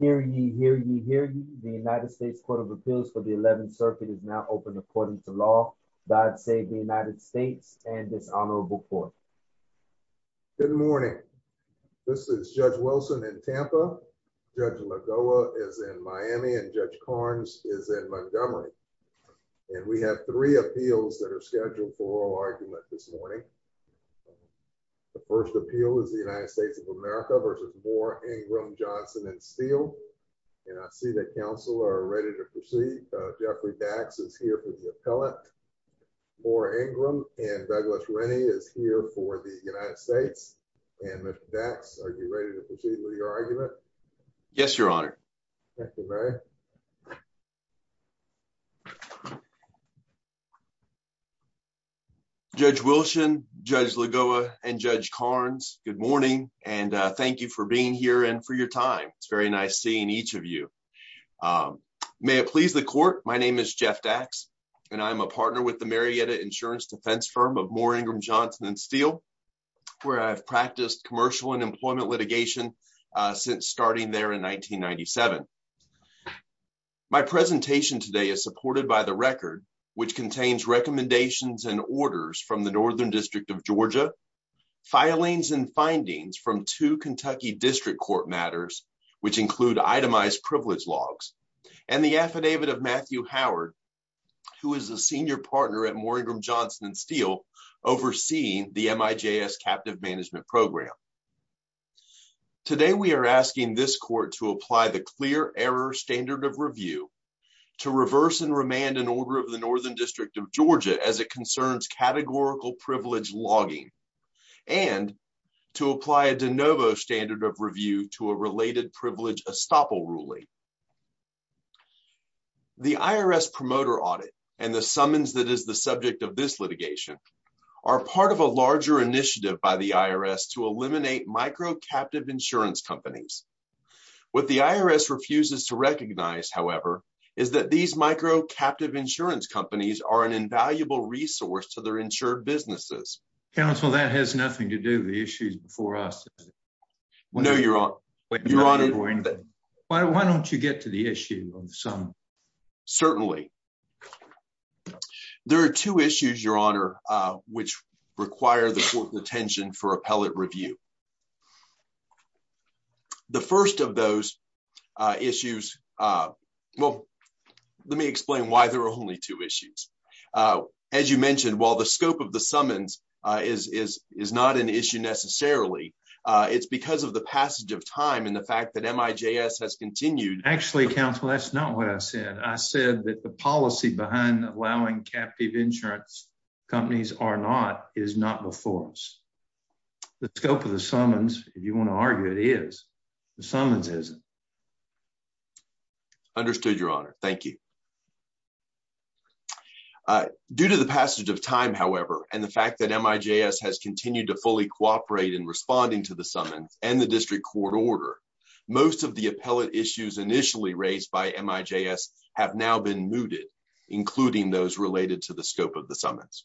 Hear ye, hear ye, hear ye. The United States Court of Appeals for the 11th Circuit is now open according to law. God save the United States and this honorable court. Good morning. This is Judge Wilson in Tampa, Judge Lagoa is in Miami, and Judge Carnes is in Montgomery. And we have three appeals that are scheduled for oral argument this morning. The first appeal is the United States of America v. Moore, Ingram, Johnson & Steel. And I see that counsel are ready to proceed. Jeffrey Dax is here for the appellate. Moore, Ingram, and Douglas Rennie is here for the United States. And Mr. Dax, are you ready to proceed with your argument? Yes, your honor. Thank you very much. Judge Wilson, Judge Lagoa, and Judge Carnes, good morning. And thank you for being here and for your time. It's very nice seeing each of you. May it please the court. My name is Jeff Dax, and I'm a partner with the Marietta Insurance Defense Firm of Moore, Ingram, Johnson & Steel, where I've practiced commercial and employment litigation since starting there in 1997. My presentation today is supported by the record, which contains recommendations and orders from the Northern District of Georgia, filings and findings from two Kentucky District Court matters, which include itemized privilege logs, and the affidavit of Matthew Howard, who is a senior partner at Moore, Ingram, Johnson & Steel, overseeing the MIJS captive management program. Today, we are asking this court to apply the clear error standard of review to reverse and remand an order of the Northern District of Georgia as it concerns categorical privilege logging, and to apply a de novo standard of review to a related privilege estoppel ruling. The IRS promoter audit, and the summons that is the subject of this litigation, are part of a larger initiative by the IRS to eliminate micro-captive insurance companies. What the IRS refuses to recognize, however, is that these micro-captive insurance companies are an invaluable resource to their insured businesses. Counsel, that has nothing to do with the issues before us. No, Your Honor. Your Honor, why don't you get to the issue of the summons? Certainly. There are two issues, Your Honor, which require the court's attention for appellate review. The first of those issues, well, let me explain why there are only two issues. As you mentioned, while the scope of the summons is not an issue necessarily, it's because of the fact that MIJS has continued… Actually, Counsel, that's not what I said. I said that the policy behind allowing captive insurance companies or not is not before us. The scope of the summons, if you want to argue it, is. The summons isn't. Understood, Your Honor. Thank you. Due to the passage of time, however, and the fact that MIJS has continued to fully Most of the appellate issues initially raised by MIJS have now been mooted, including those related to the scope of the summons.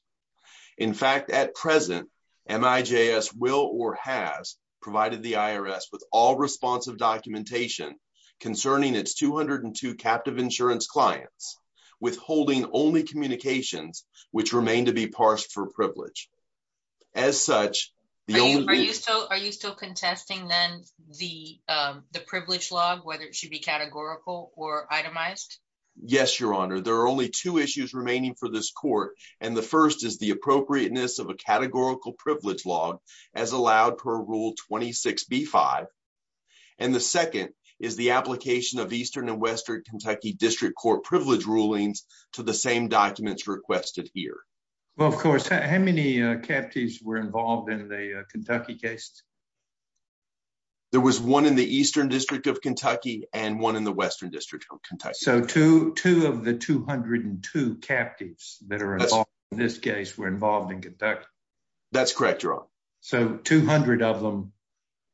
In fact, at present, MIJS will or has provided the IRS with all responsive documentation concerning its 202 captive insurance clients, withholding only communications which remain to be parsed for privilege. As such… Are you still contesting, then, the privilege log, whether it should be categorical or itemized? Yes, Your Honor. There are only two issues remaining for this court, and the first is the appropriateness of a categorical privilege log as allowed per Rule 26b-5, and the second is the application of Eastern and Western Kentucky District Court privilege rulings to the same documents requested here. Well, of course, how many captives were involved in the Kentucky case? There was one in the Eastern District of Kentucky and one in the Western District of Kentucky. So, two of the 202 captives that are involved in this case were involved in Kentucky? That's correct, Your Honor. So, 200 of them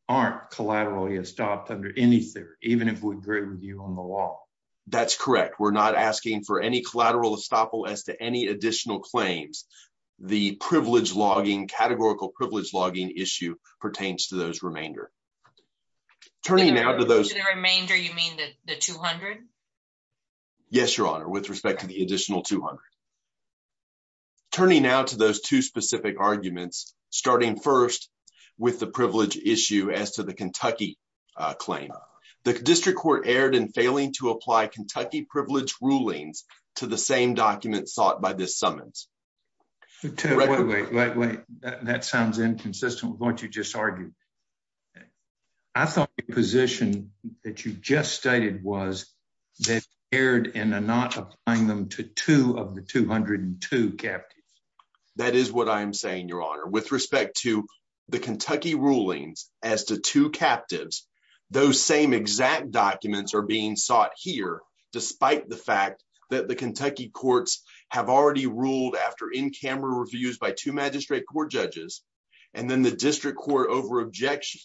aren't collaterally estopped under any theory, even if we agree with you on the law? That's correct. We're not asking for any collateral estoppel as to any additional claims. The privilege logging, categorical privilege logging issue pertains to those remainder. Turning now to those… To the remainder, you mean the 200? Yes, Your Honor, with respect to the additional 200. Turning now to those two specific arguments, starting first with the privilege issue as to Kentucky claim, the District Court erred in failing to apply Kentucky privilege rulings to the same documents sought by this summons. Wait, wait, wait. That sounds inconsistent with what you just argued. I thought the position that you just stated was that it erred in not applying them to two of the 202 captives. That is what I am saying, Your Honor. With respect to the Kentucky rulings as to two captives, those same exact documents are being sought here, despite the fact that the Kentucky courts have already ruled after in-camera reviews by two magistrate court judges, and then the District Court over objection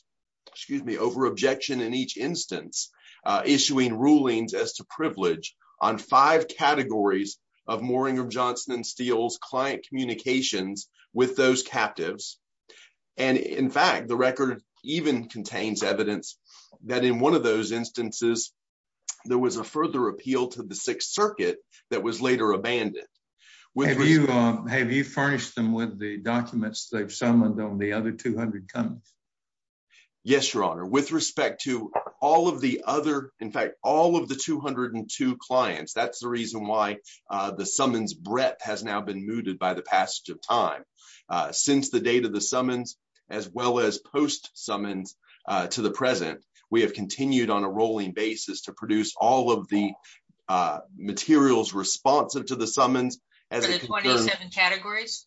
in each instance, issuing rulings as to privilege on five categories of Moringa, Johnson & Steele's communications with those captives. In fact, the record even contains evidence that in one of those instances, there was a further appeal to the Sixth Circuit that was later abandoned. Have you furnished them with the documents they've summoned on the other 200 counties? Yes, Your Honor, with respect to all of the other… In fact, all of the 202 clients. That's the reason why the summons' breadth has now been mooted by the passage of time. Since the date of the summons, as well as post-summons to the present, we have continued on a rolling basis to produce all of the materials responsive to the summons… For the 27 categories?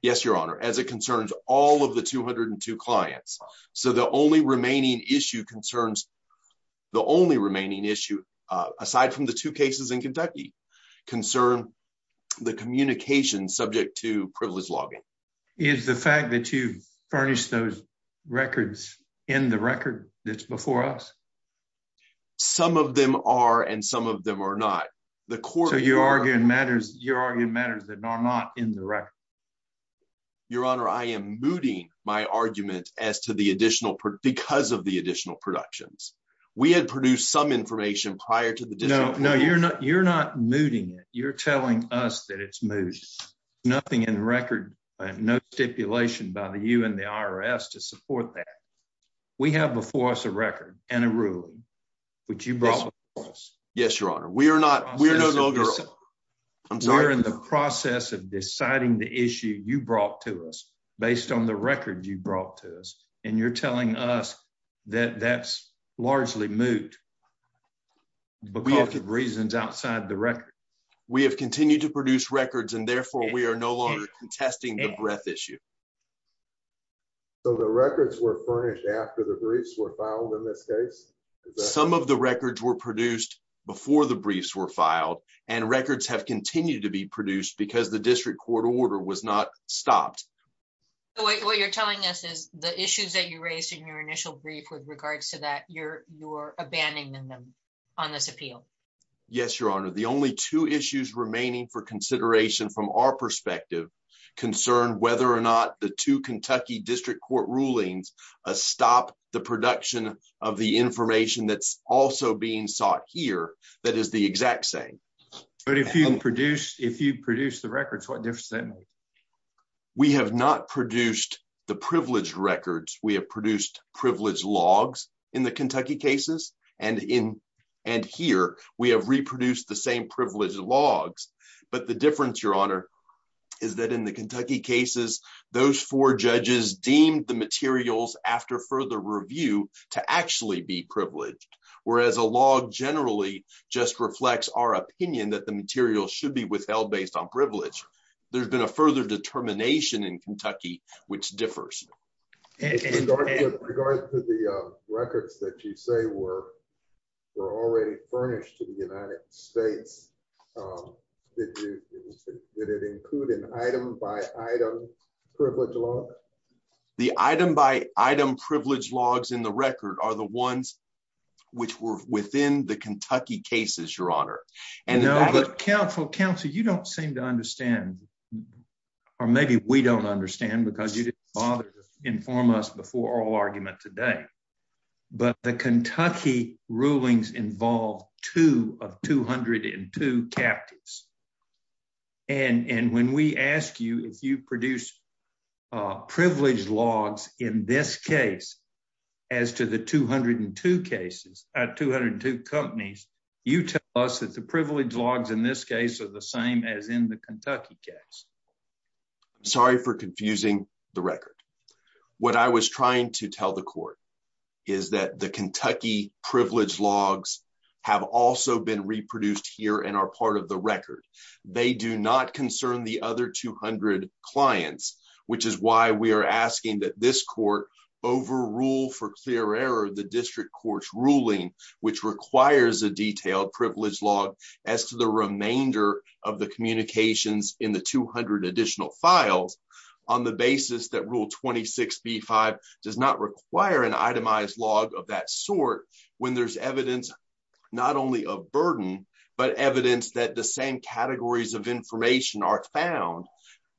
Yes, Your Honor, as it concerns all of the 202 clients. So, the only remaining issue, aside from the two cases in Kentucky, concern the communications subject to privilege logging. Is the fact that you've furnished those records in the record that's before us? Some of them are, and some of them are not. So, you're arguing matters that are not in the record? Your Honor, I am mooting my argument as to the additional… because of the additional productions. We had produced some information prior to the… No, no, you're not mooting it. You're telling us that it's moot. Nothing in the record, no stipulation by you and the IRS to support that. We have before us a record and a ruling, which you brought before us. Yes, Your Honor. We are not… We are no no-go. I'm sorry. The process of deciding the issue you brought to us based on the record you brought to us, and you're telling us that that's largely moot because of reasons outside the record. We have continued to produce records, and therefore, we are no longer contesting the breadth issue. So, the records were furnished after the briefs were filed in this case? Some of the records were produced before the briefs were filed, and records have continued to be produced because the district court order was not stopped. What you're telling us is the issues that you raised in your initial brief with regards to that, you're abandoning them on this appeal? Yes, Your Honor. The only two issues remaining for consideration from our perspective concern whether or not the two Kentucky district court rulings stop the production of the information that's also being sought here that is the exact same. But if you produce the records, what difference does that make? We have not produced the privileged records. We have produced privileged logs in the Kentucky cases, and here, we have reproduced the same privileged logs. But the difference, Your Honor, is that in the Kentucky cases, those four judges deemed the materials after further review to actually be privileged, whereas a log generally just reflects our opinion that the material should be withheld based on privilege. There's been a further determination in Kentucky which differs. In regards to the records that you say were already furnished to the United States, did it include an item-by-item privileged log? The item-by-item privileged logs in the record are the ones which were within the Kentucky cases, Your Honor. No, but counsel, you don't seem to understand, or maybe we don't understand because you didn't bother to inform us before oral argument today, but the Kentucky rulings involve two of 202 captives. And when we ask you if you produce privileged logs in this case as to the 202 companies, you tell us that the privileged logs in this case are the same as in the Kentucky case. Sorry for confusing the record. What I was trying to tell the court is that the Kentucky privileged logs have also been reproduced here and are part of the record. They do not concern the other 200 clients, which is why we are asking that this court overrule for clear error the district court's ruling, which requires a detailed privileged log as to the remainder of the communications in the 200 additional files on the basis that Rule 26b-5 does not require an itemized log of that sort when there's evidence not only of burden, but evidence that the same categories of information are found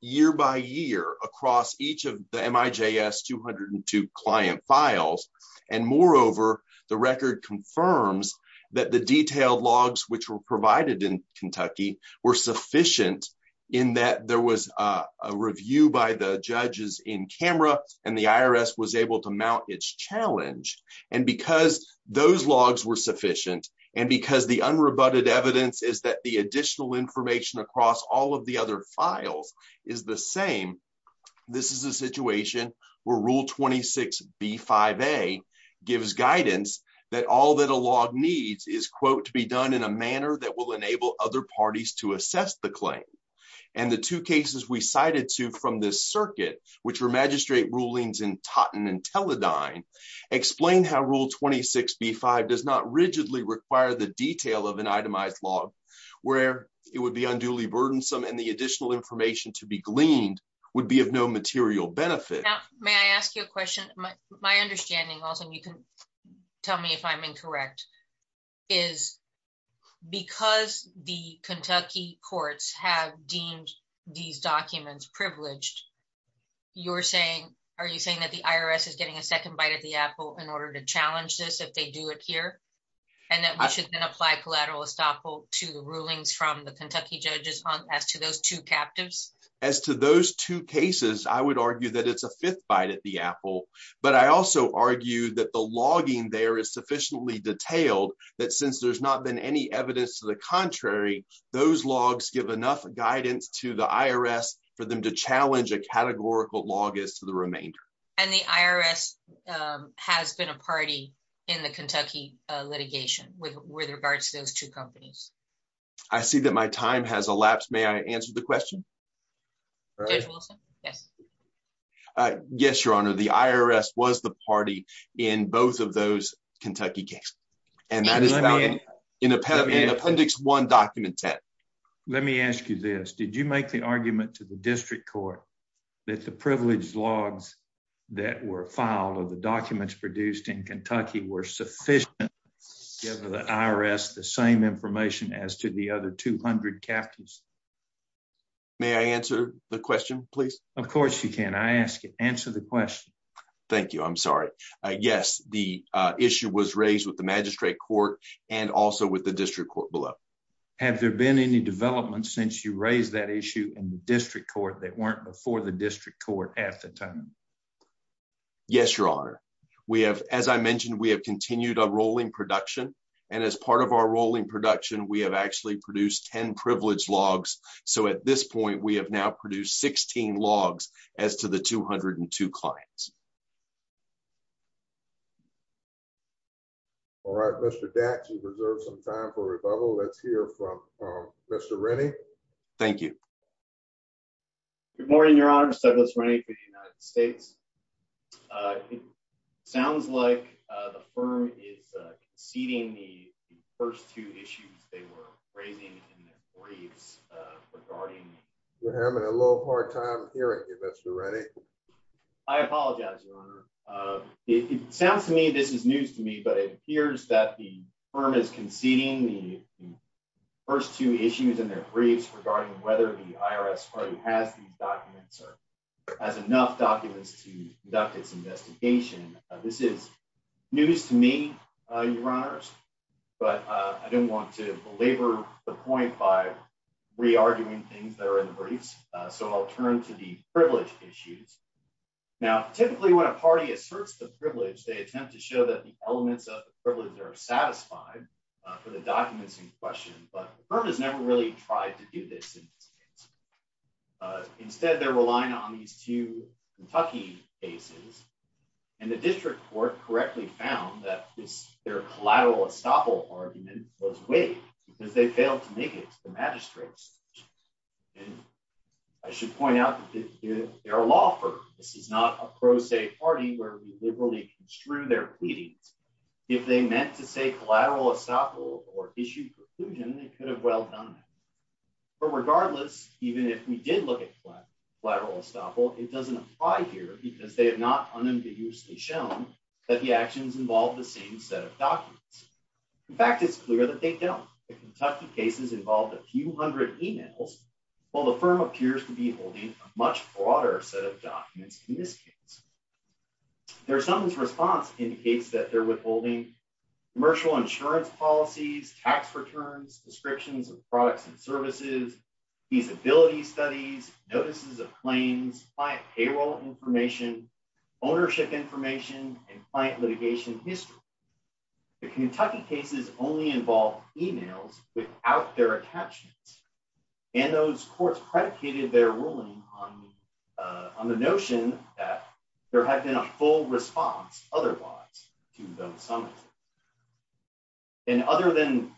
year by year across each of the MIJS 202 client files. And moreover, the record confirms that the detailed logs which were provided in Kentucky were sufficient in that there was a review by the judges in camera and the IRS was able to because the unrebutted evidence is that the additional information across all of the other files is the same. This is a situation where Rule 26b-5a gives guidance that all that a log needs is, quote, to be done in a manner that will enable other parties to assess the claim. And the two cases we cited to from this circuit, which were magistrate rulings in Totten and require the detail of an itemized log where it would be unduly burdensome and the additional information to be gleaned would be of no material benefit. Now, may I ask you a question? My understanding also, and you can tell me if I'm incorrect, is because the Kentucky courts have deemed these documents privileged, you're saying, are you saying that the IRS is getting a second bite at the apple in order to challenge this if they do it here? And that we should then apply collateral estoppel to the rulings from the Kentucky judges as to those two captives? As to those two cases, I would argue that it's a fifth bite at the apple. But I also argue that the logging there is sufficiently detailed that since there's not been any evidence to the contrary, those logs give enough guidance to the IRS for them to challenge a categorical log as to the remainder. And the IRS has been a party in the Kentucky litigation with regards to those two companies. I see that my time has elapsed. May I answer the question? Judge Wilson? Yes. Yes, Your Honor. The IRS was the party in both of those Kentucky cases. And that is found in Appendix 1, Document 10. Let me ask you this. Did you make the argument to the district court that the privileged logs that were filed or the documents produced in Kentucky were sufficient to give the IRS the same information as to the other 200 captives? May I answer the question, please? Of course, you can. I asked you to answer the question. Thank you. I'm sorry. Yes, the issue was raised with the magistrate court and also with the district court below. Have there been any developments since you raised that issue in the district court that weren't before the district court at the time? Yes, Your Honor. We have, as I mentioned, we have continued a rolling production. And as part of our rolling production, we have actually produced 10 privileged logs. So at this point, we have now produced 16 logs as to the 202 clients. All right, Mr. Dax, you've reserved some time for rebuttal. Let's hear from Mr. Rennie. Thank you. Good morning, Your Honor. Steglitz Rennie for the United States. It sounds like the firm is conceding the first two issues they were raising in their briefs regarding... We're having a little hard time hearing you, Mr. Rennie. I apologize, Your Honor. It sounds to me, this is news to me, but it appears that the firm is conceding. The first two issues in their briefs regarding whether the IRS party has these documents or has enough documents to conduct its investigation. This is news to me, Your Honors. But I don't want to belabor the point by re-arguing things that are in the briefs. So I'll turn to the privilege issues. Now, typically, when a party asserts the privilege, they attempt to show that the elements of the privilege are satisfied for the documents in question. But the firm has never really tried to do this. Instead, they're relying on these two Kentucky cases. And the district court correctly found that their collateral estoppel argument was weak because they failed to make it to the magistrate's. And I should point out that they're a law firm. This is not a pro se party where we liberally construe their pleadings. If they meant to say collateral estoppel or issue preclusion, they could have well done that. But regardless, even if we did look at collateral estoppel, it doesn't apply here because they have not unambiguously shown that the actions involve the same set of documents. In fact, it's clear that they don't. The Kentucky cases involved a few hundred emails, while the firm appears to be holding a much broader set of documents in this case. Their summons response indicates that they're withholding commercial insurance policies, tax returns, descriptions of products and services, feasibility studies, notices of claims, client payroll information, ownership information, and client litigation history. The Kentucky cases only involve emails without their attachments. And those courts predicated their ruling on the notion that there had been a full response otherwise to those summons. And other than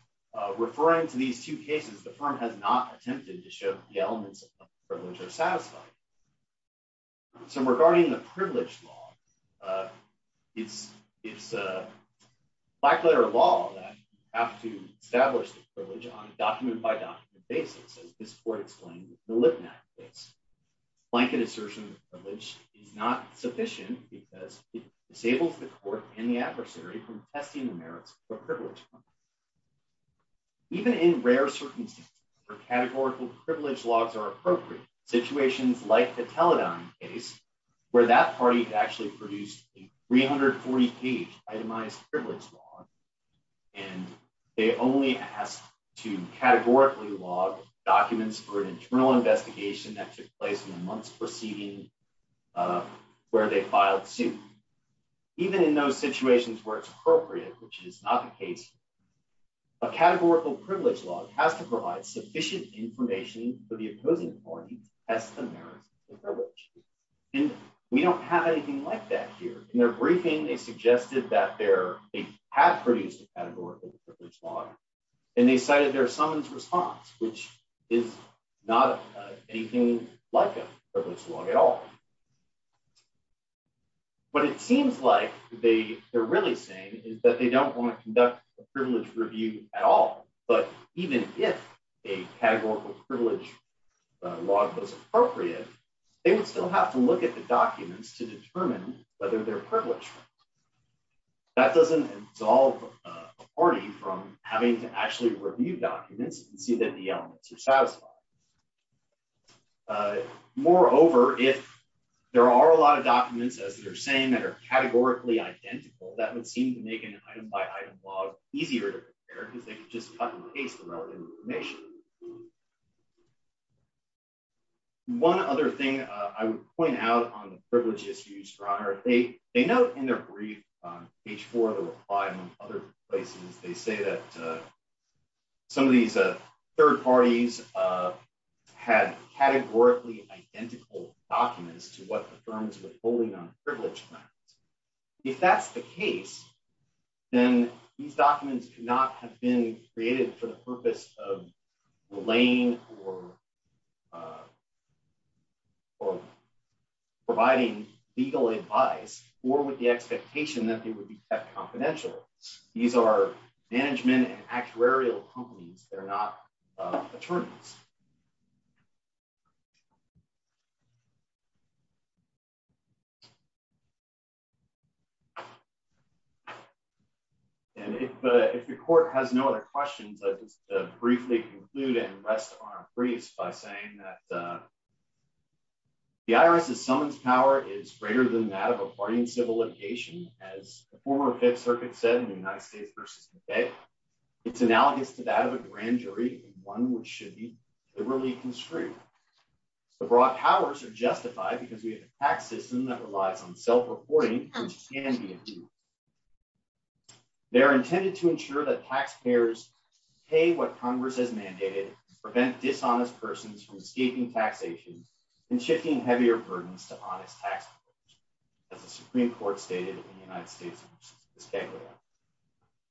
referring to these two cases, the firm has not attempted to show that the elements of privilege are satisfied. So regarding the privilege law, it's a black letter of law that you have to establish the basis, as this court explained in the Lipnack case. Blanket assertion of privilege is not sufficient because it disables the court and the adversary from testing the merits of a privilege claim. Even in rare circumstances where categorical privilege laws are appropriate, situations like the Teledyne case, where that party actually produced a 340-page itemized privilege law, and they only asked to categorically log documents for an internal investigation that took place in the months preceding where they filed suit. Even in those situations where it's appropriate, which is not the case, a categorical privilege law has to provide sufficient information for the opposing party to test the merits of the privilege. And we don't have anything like that here. In their briefing, they suggested that they had produced a categorical privilege law, and they cited their summons response, which is not anything like a privilege law at all. What it seems like they're really saying is that they don't want to conduct a privilege review at all, but even if a categorical privilege law was appropriate, they would have to look at the documents to determine whether they're privileged. That doesn't absolve a party from having to actually review documents and see that the elements are satisfied. Moreover, if there are a lot of documents, as they're saying, that are categorically identical, that would seem to make an item-by-item law easier to compare because they could just cut and paste the relevant information. One other thing I would point out on the privilege issues, Your Honor, they note in their brief on page four of the reply, among other places, they say that some of these third parties had categorically identical documents to what the firms were holding on privilege claims. If that's the case, then these documents could not have been created for the purpose of relaying or providing legal advice or with the expectation that they would be kept confidential. These are management and actuarial companies. They're not attorneys. If the court has no other questions, I'll just briefly conclude and rest on our briefs by saying that the IRS's summons power is greater than that of a party in civil litigation. As the former Fifth Circuit said in the United States versus the Fed, it's analogous to that of a grand jury, one which should be judged by the Supreme Court. The broad powers are justified because we have a tax system that relies on self-reporting. They are intended to ensure that taxpayers pay what Congress has mandated, prevent dishonest persons from escaping taxation, and shifting heavier burdens to honest taxpayers, as the Supreme Court stated in the United States versus the Fed.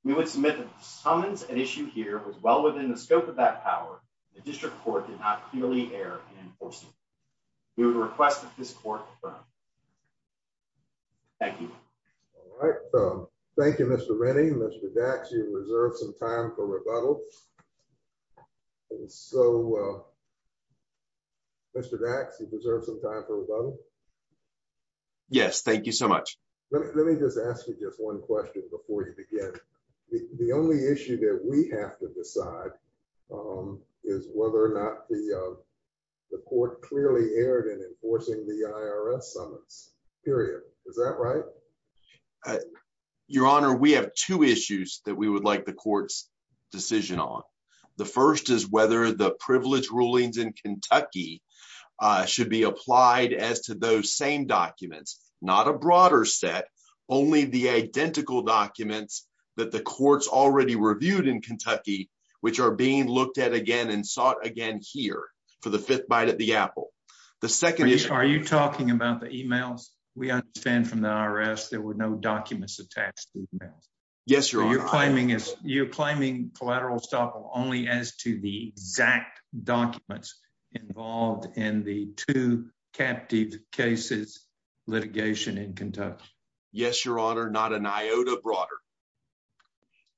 We would submit that the summons at issue here was well within the scope of that power. The district court did not clearly err in enforcing it. We would request that this court confirm. Thank you. All right. Thank you, Mr. Rennie. Mr. Dax, you've reserved some time for rebuttal. And so, Mr. Dax, you've reserved some time for rebuttal? Yes, thank you so much. Let me just ask you just one question before you begin. The only issue that we have to decide is whether or not the court clearly erred in enforcing the IRS summons, period. Is that right? Your Honor, we have two issues that we would like the court's decision on. The first is whether the privilege rulings in Kentucky should be applied as to those same documents, not a broader set, only the identical documents that the courts already reviewed in Kentucky, which are being looked at again and sought again here for the fifth bite at the apple. The second is— Are you talking about the emails? We understand from the IRS there were no documents attached to the emails. Yes, Your Honor. So you're claiming collateral estoppel only as to the exact documents involved in the two captive cases litigation in Kentucky? Yes, Your Honor. Not an iota broader.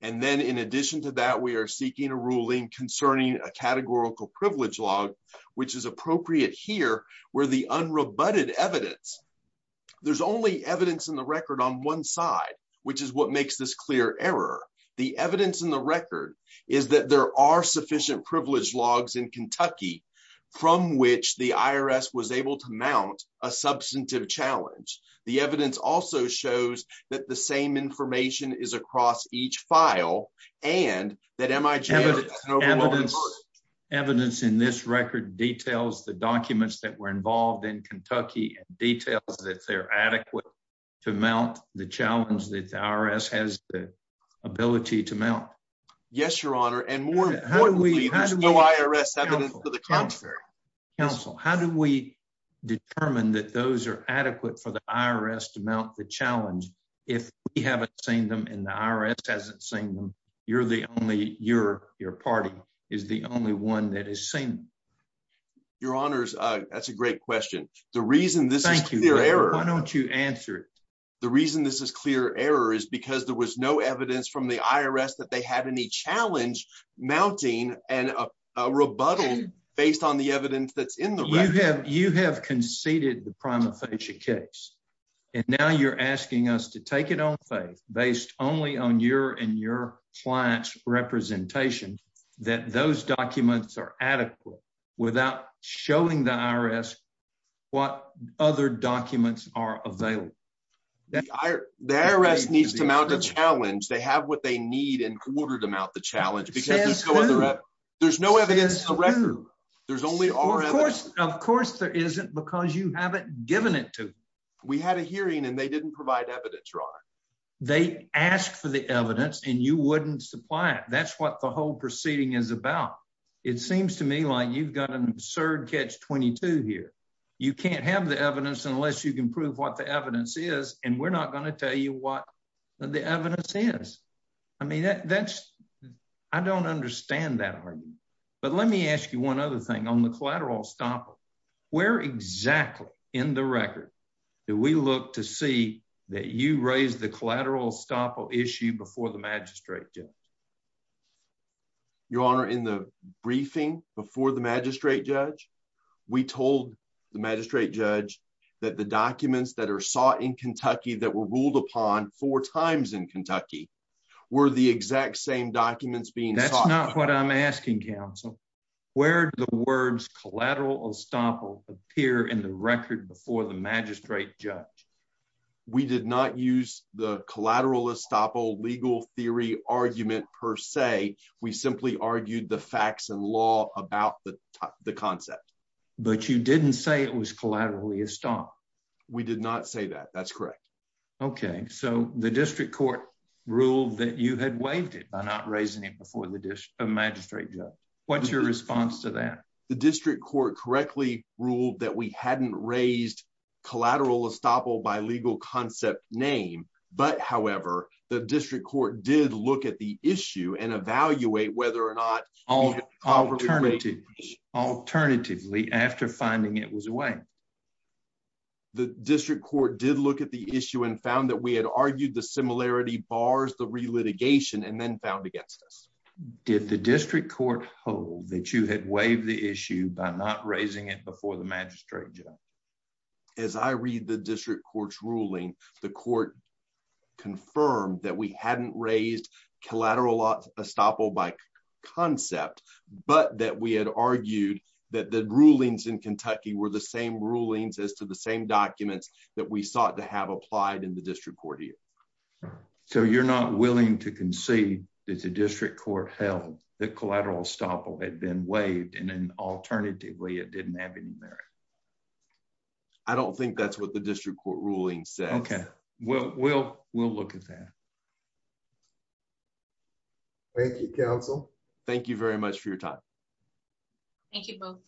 And then in addition to that, we are seeking a ruling concerning a categorical privilege log, which is appropriate here where the unrebutted evidence, there's only evidence in the record on one side, which is what makes this clear error. The evidence in the record is that there are sufficient privilege logs in Kentucky from which the IRS was able to mount a substantive challenge. The evidence also shows that the same information is across each file and that MIG— Evidence in this record details the documents that were involved in Kentucky and details that they're adequate to mount the challenge that the IRS has the ability to mount. Yes, Your Honor. And more importantly, there's no IRS evidence for the contrary. Counsel, how do we determine that those are adequate for the IRS to mount the challenge if we haven't seen them and the IRS hasn't seen them? You're the only—your party is the only one that has seen them. Your Honors, that's a great question. The reason this is clear error— Why don't you answer it? The reason this is clear error is because there was no evidence from the IRS that they You have conceded the prima facie case and now you're asking us to take it on faith based only on your and your client's representation that those documents are adequate without showing the IRS what other documents are available. The IRS needs to mount a challenge. They have what they need in order to mount the challenge because there's no other— There's no evidence in the record. There's only our evidence. Of course there isn't because you haven't given it to them. We had a hearing and they didn't provide evidence, Your Honor. They asked for the evidence and you wouldn't supply it. That's what the whole proceeding is about. It seems to me like you've got an absurd catch-22 here. You can't have the evidence unless you can prove what the evidence is, and we're not going to tell you what the evidence is. I mean, that's—I don't understand that argument. But let me ask you one other thing. On the collateral estoppel, where exactly in the record do we look to see that you raised the collateral estoppel issue before the magistrate judge? Your Honor, in the briefing before the magistrate judge, we told the magistrate judge that the documents that are sought in Kentucky that were ruled upon four times in Kentucky were the exact same documents being sought— where do the words collateral estoppel appear in the record before the magistrate judge? We did not use the collateral estoppel legal theory argument per se. We simply argued the facts and law about the concept. But you didn't say it was collateral estoppel. We did not say that. That's correct. Okay. So the district court ruled that you had waived it by not raising it before the magistrate judge. What's your response to that? The district court correctly ruled that we hadn't raised collateral estoppel by legal concept name. But, however, the district court did look at the issue and evaluate whether or not— Alternatively, after finding it was waived. The district court did look at the issue and found that we had argued the similarity bars the relitigation and then found against us. Did the district court hold that you had waived the issue by not raising it before the magistrate judge? As I read the district court's ruling, the court confirmed that we hadn't raised collateral estoppel by concept, but that we had argued that the rulings in Kentucky were the same rulings as to the same documents that we sought to have applied in the district court here. So you're not willing to concede that the district court held that collateral estoppel had been waived and then, alternatively, it didn't have any merit? I don't think that's what the district court ruling says. Okay. Well, we'll look at that. Thank you, counsel. Thank you very much for your time. Thank you both.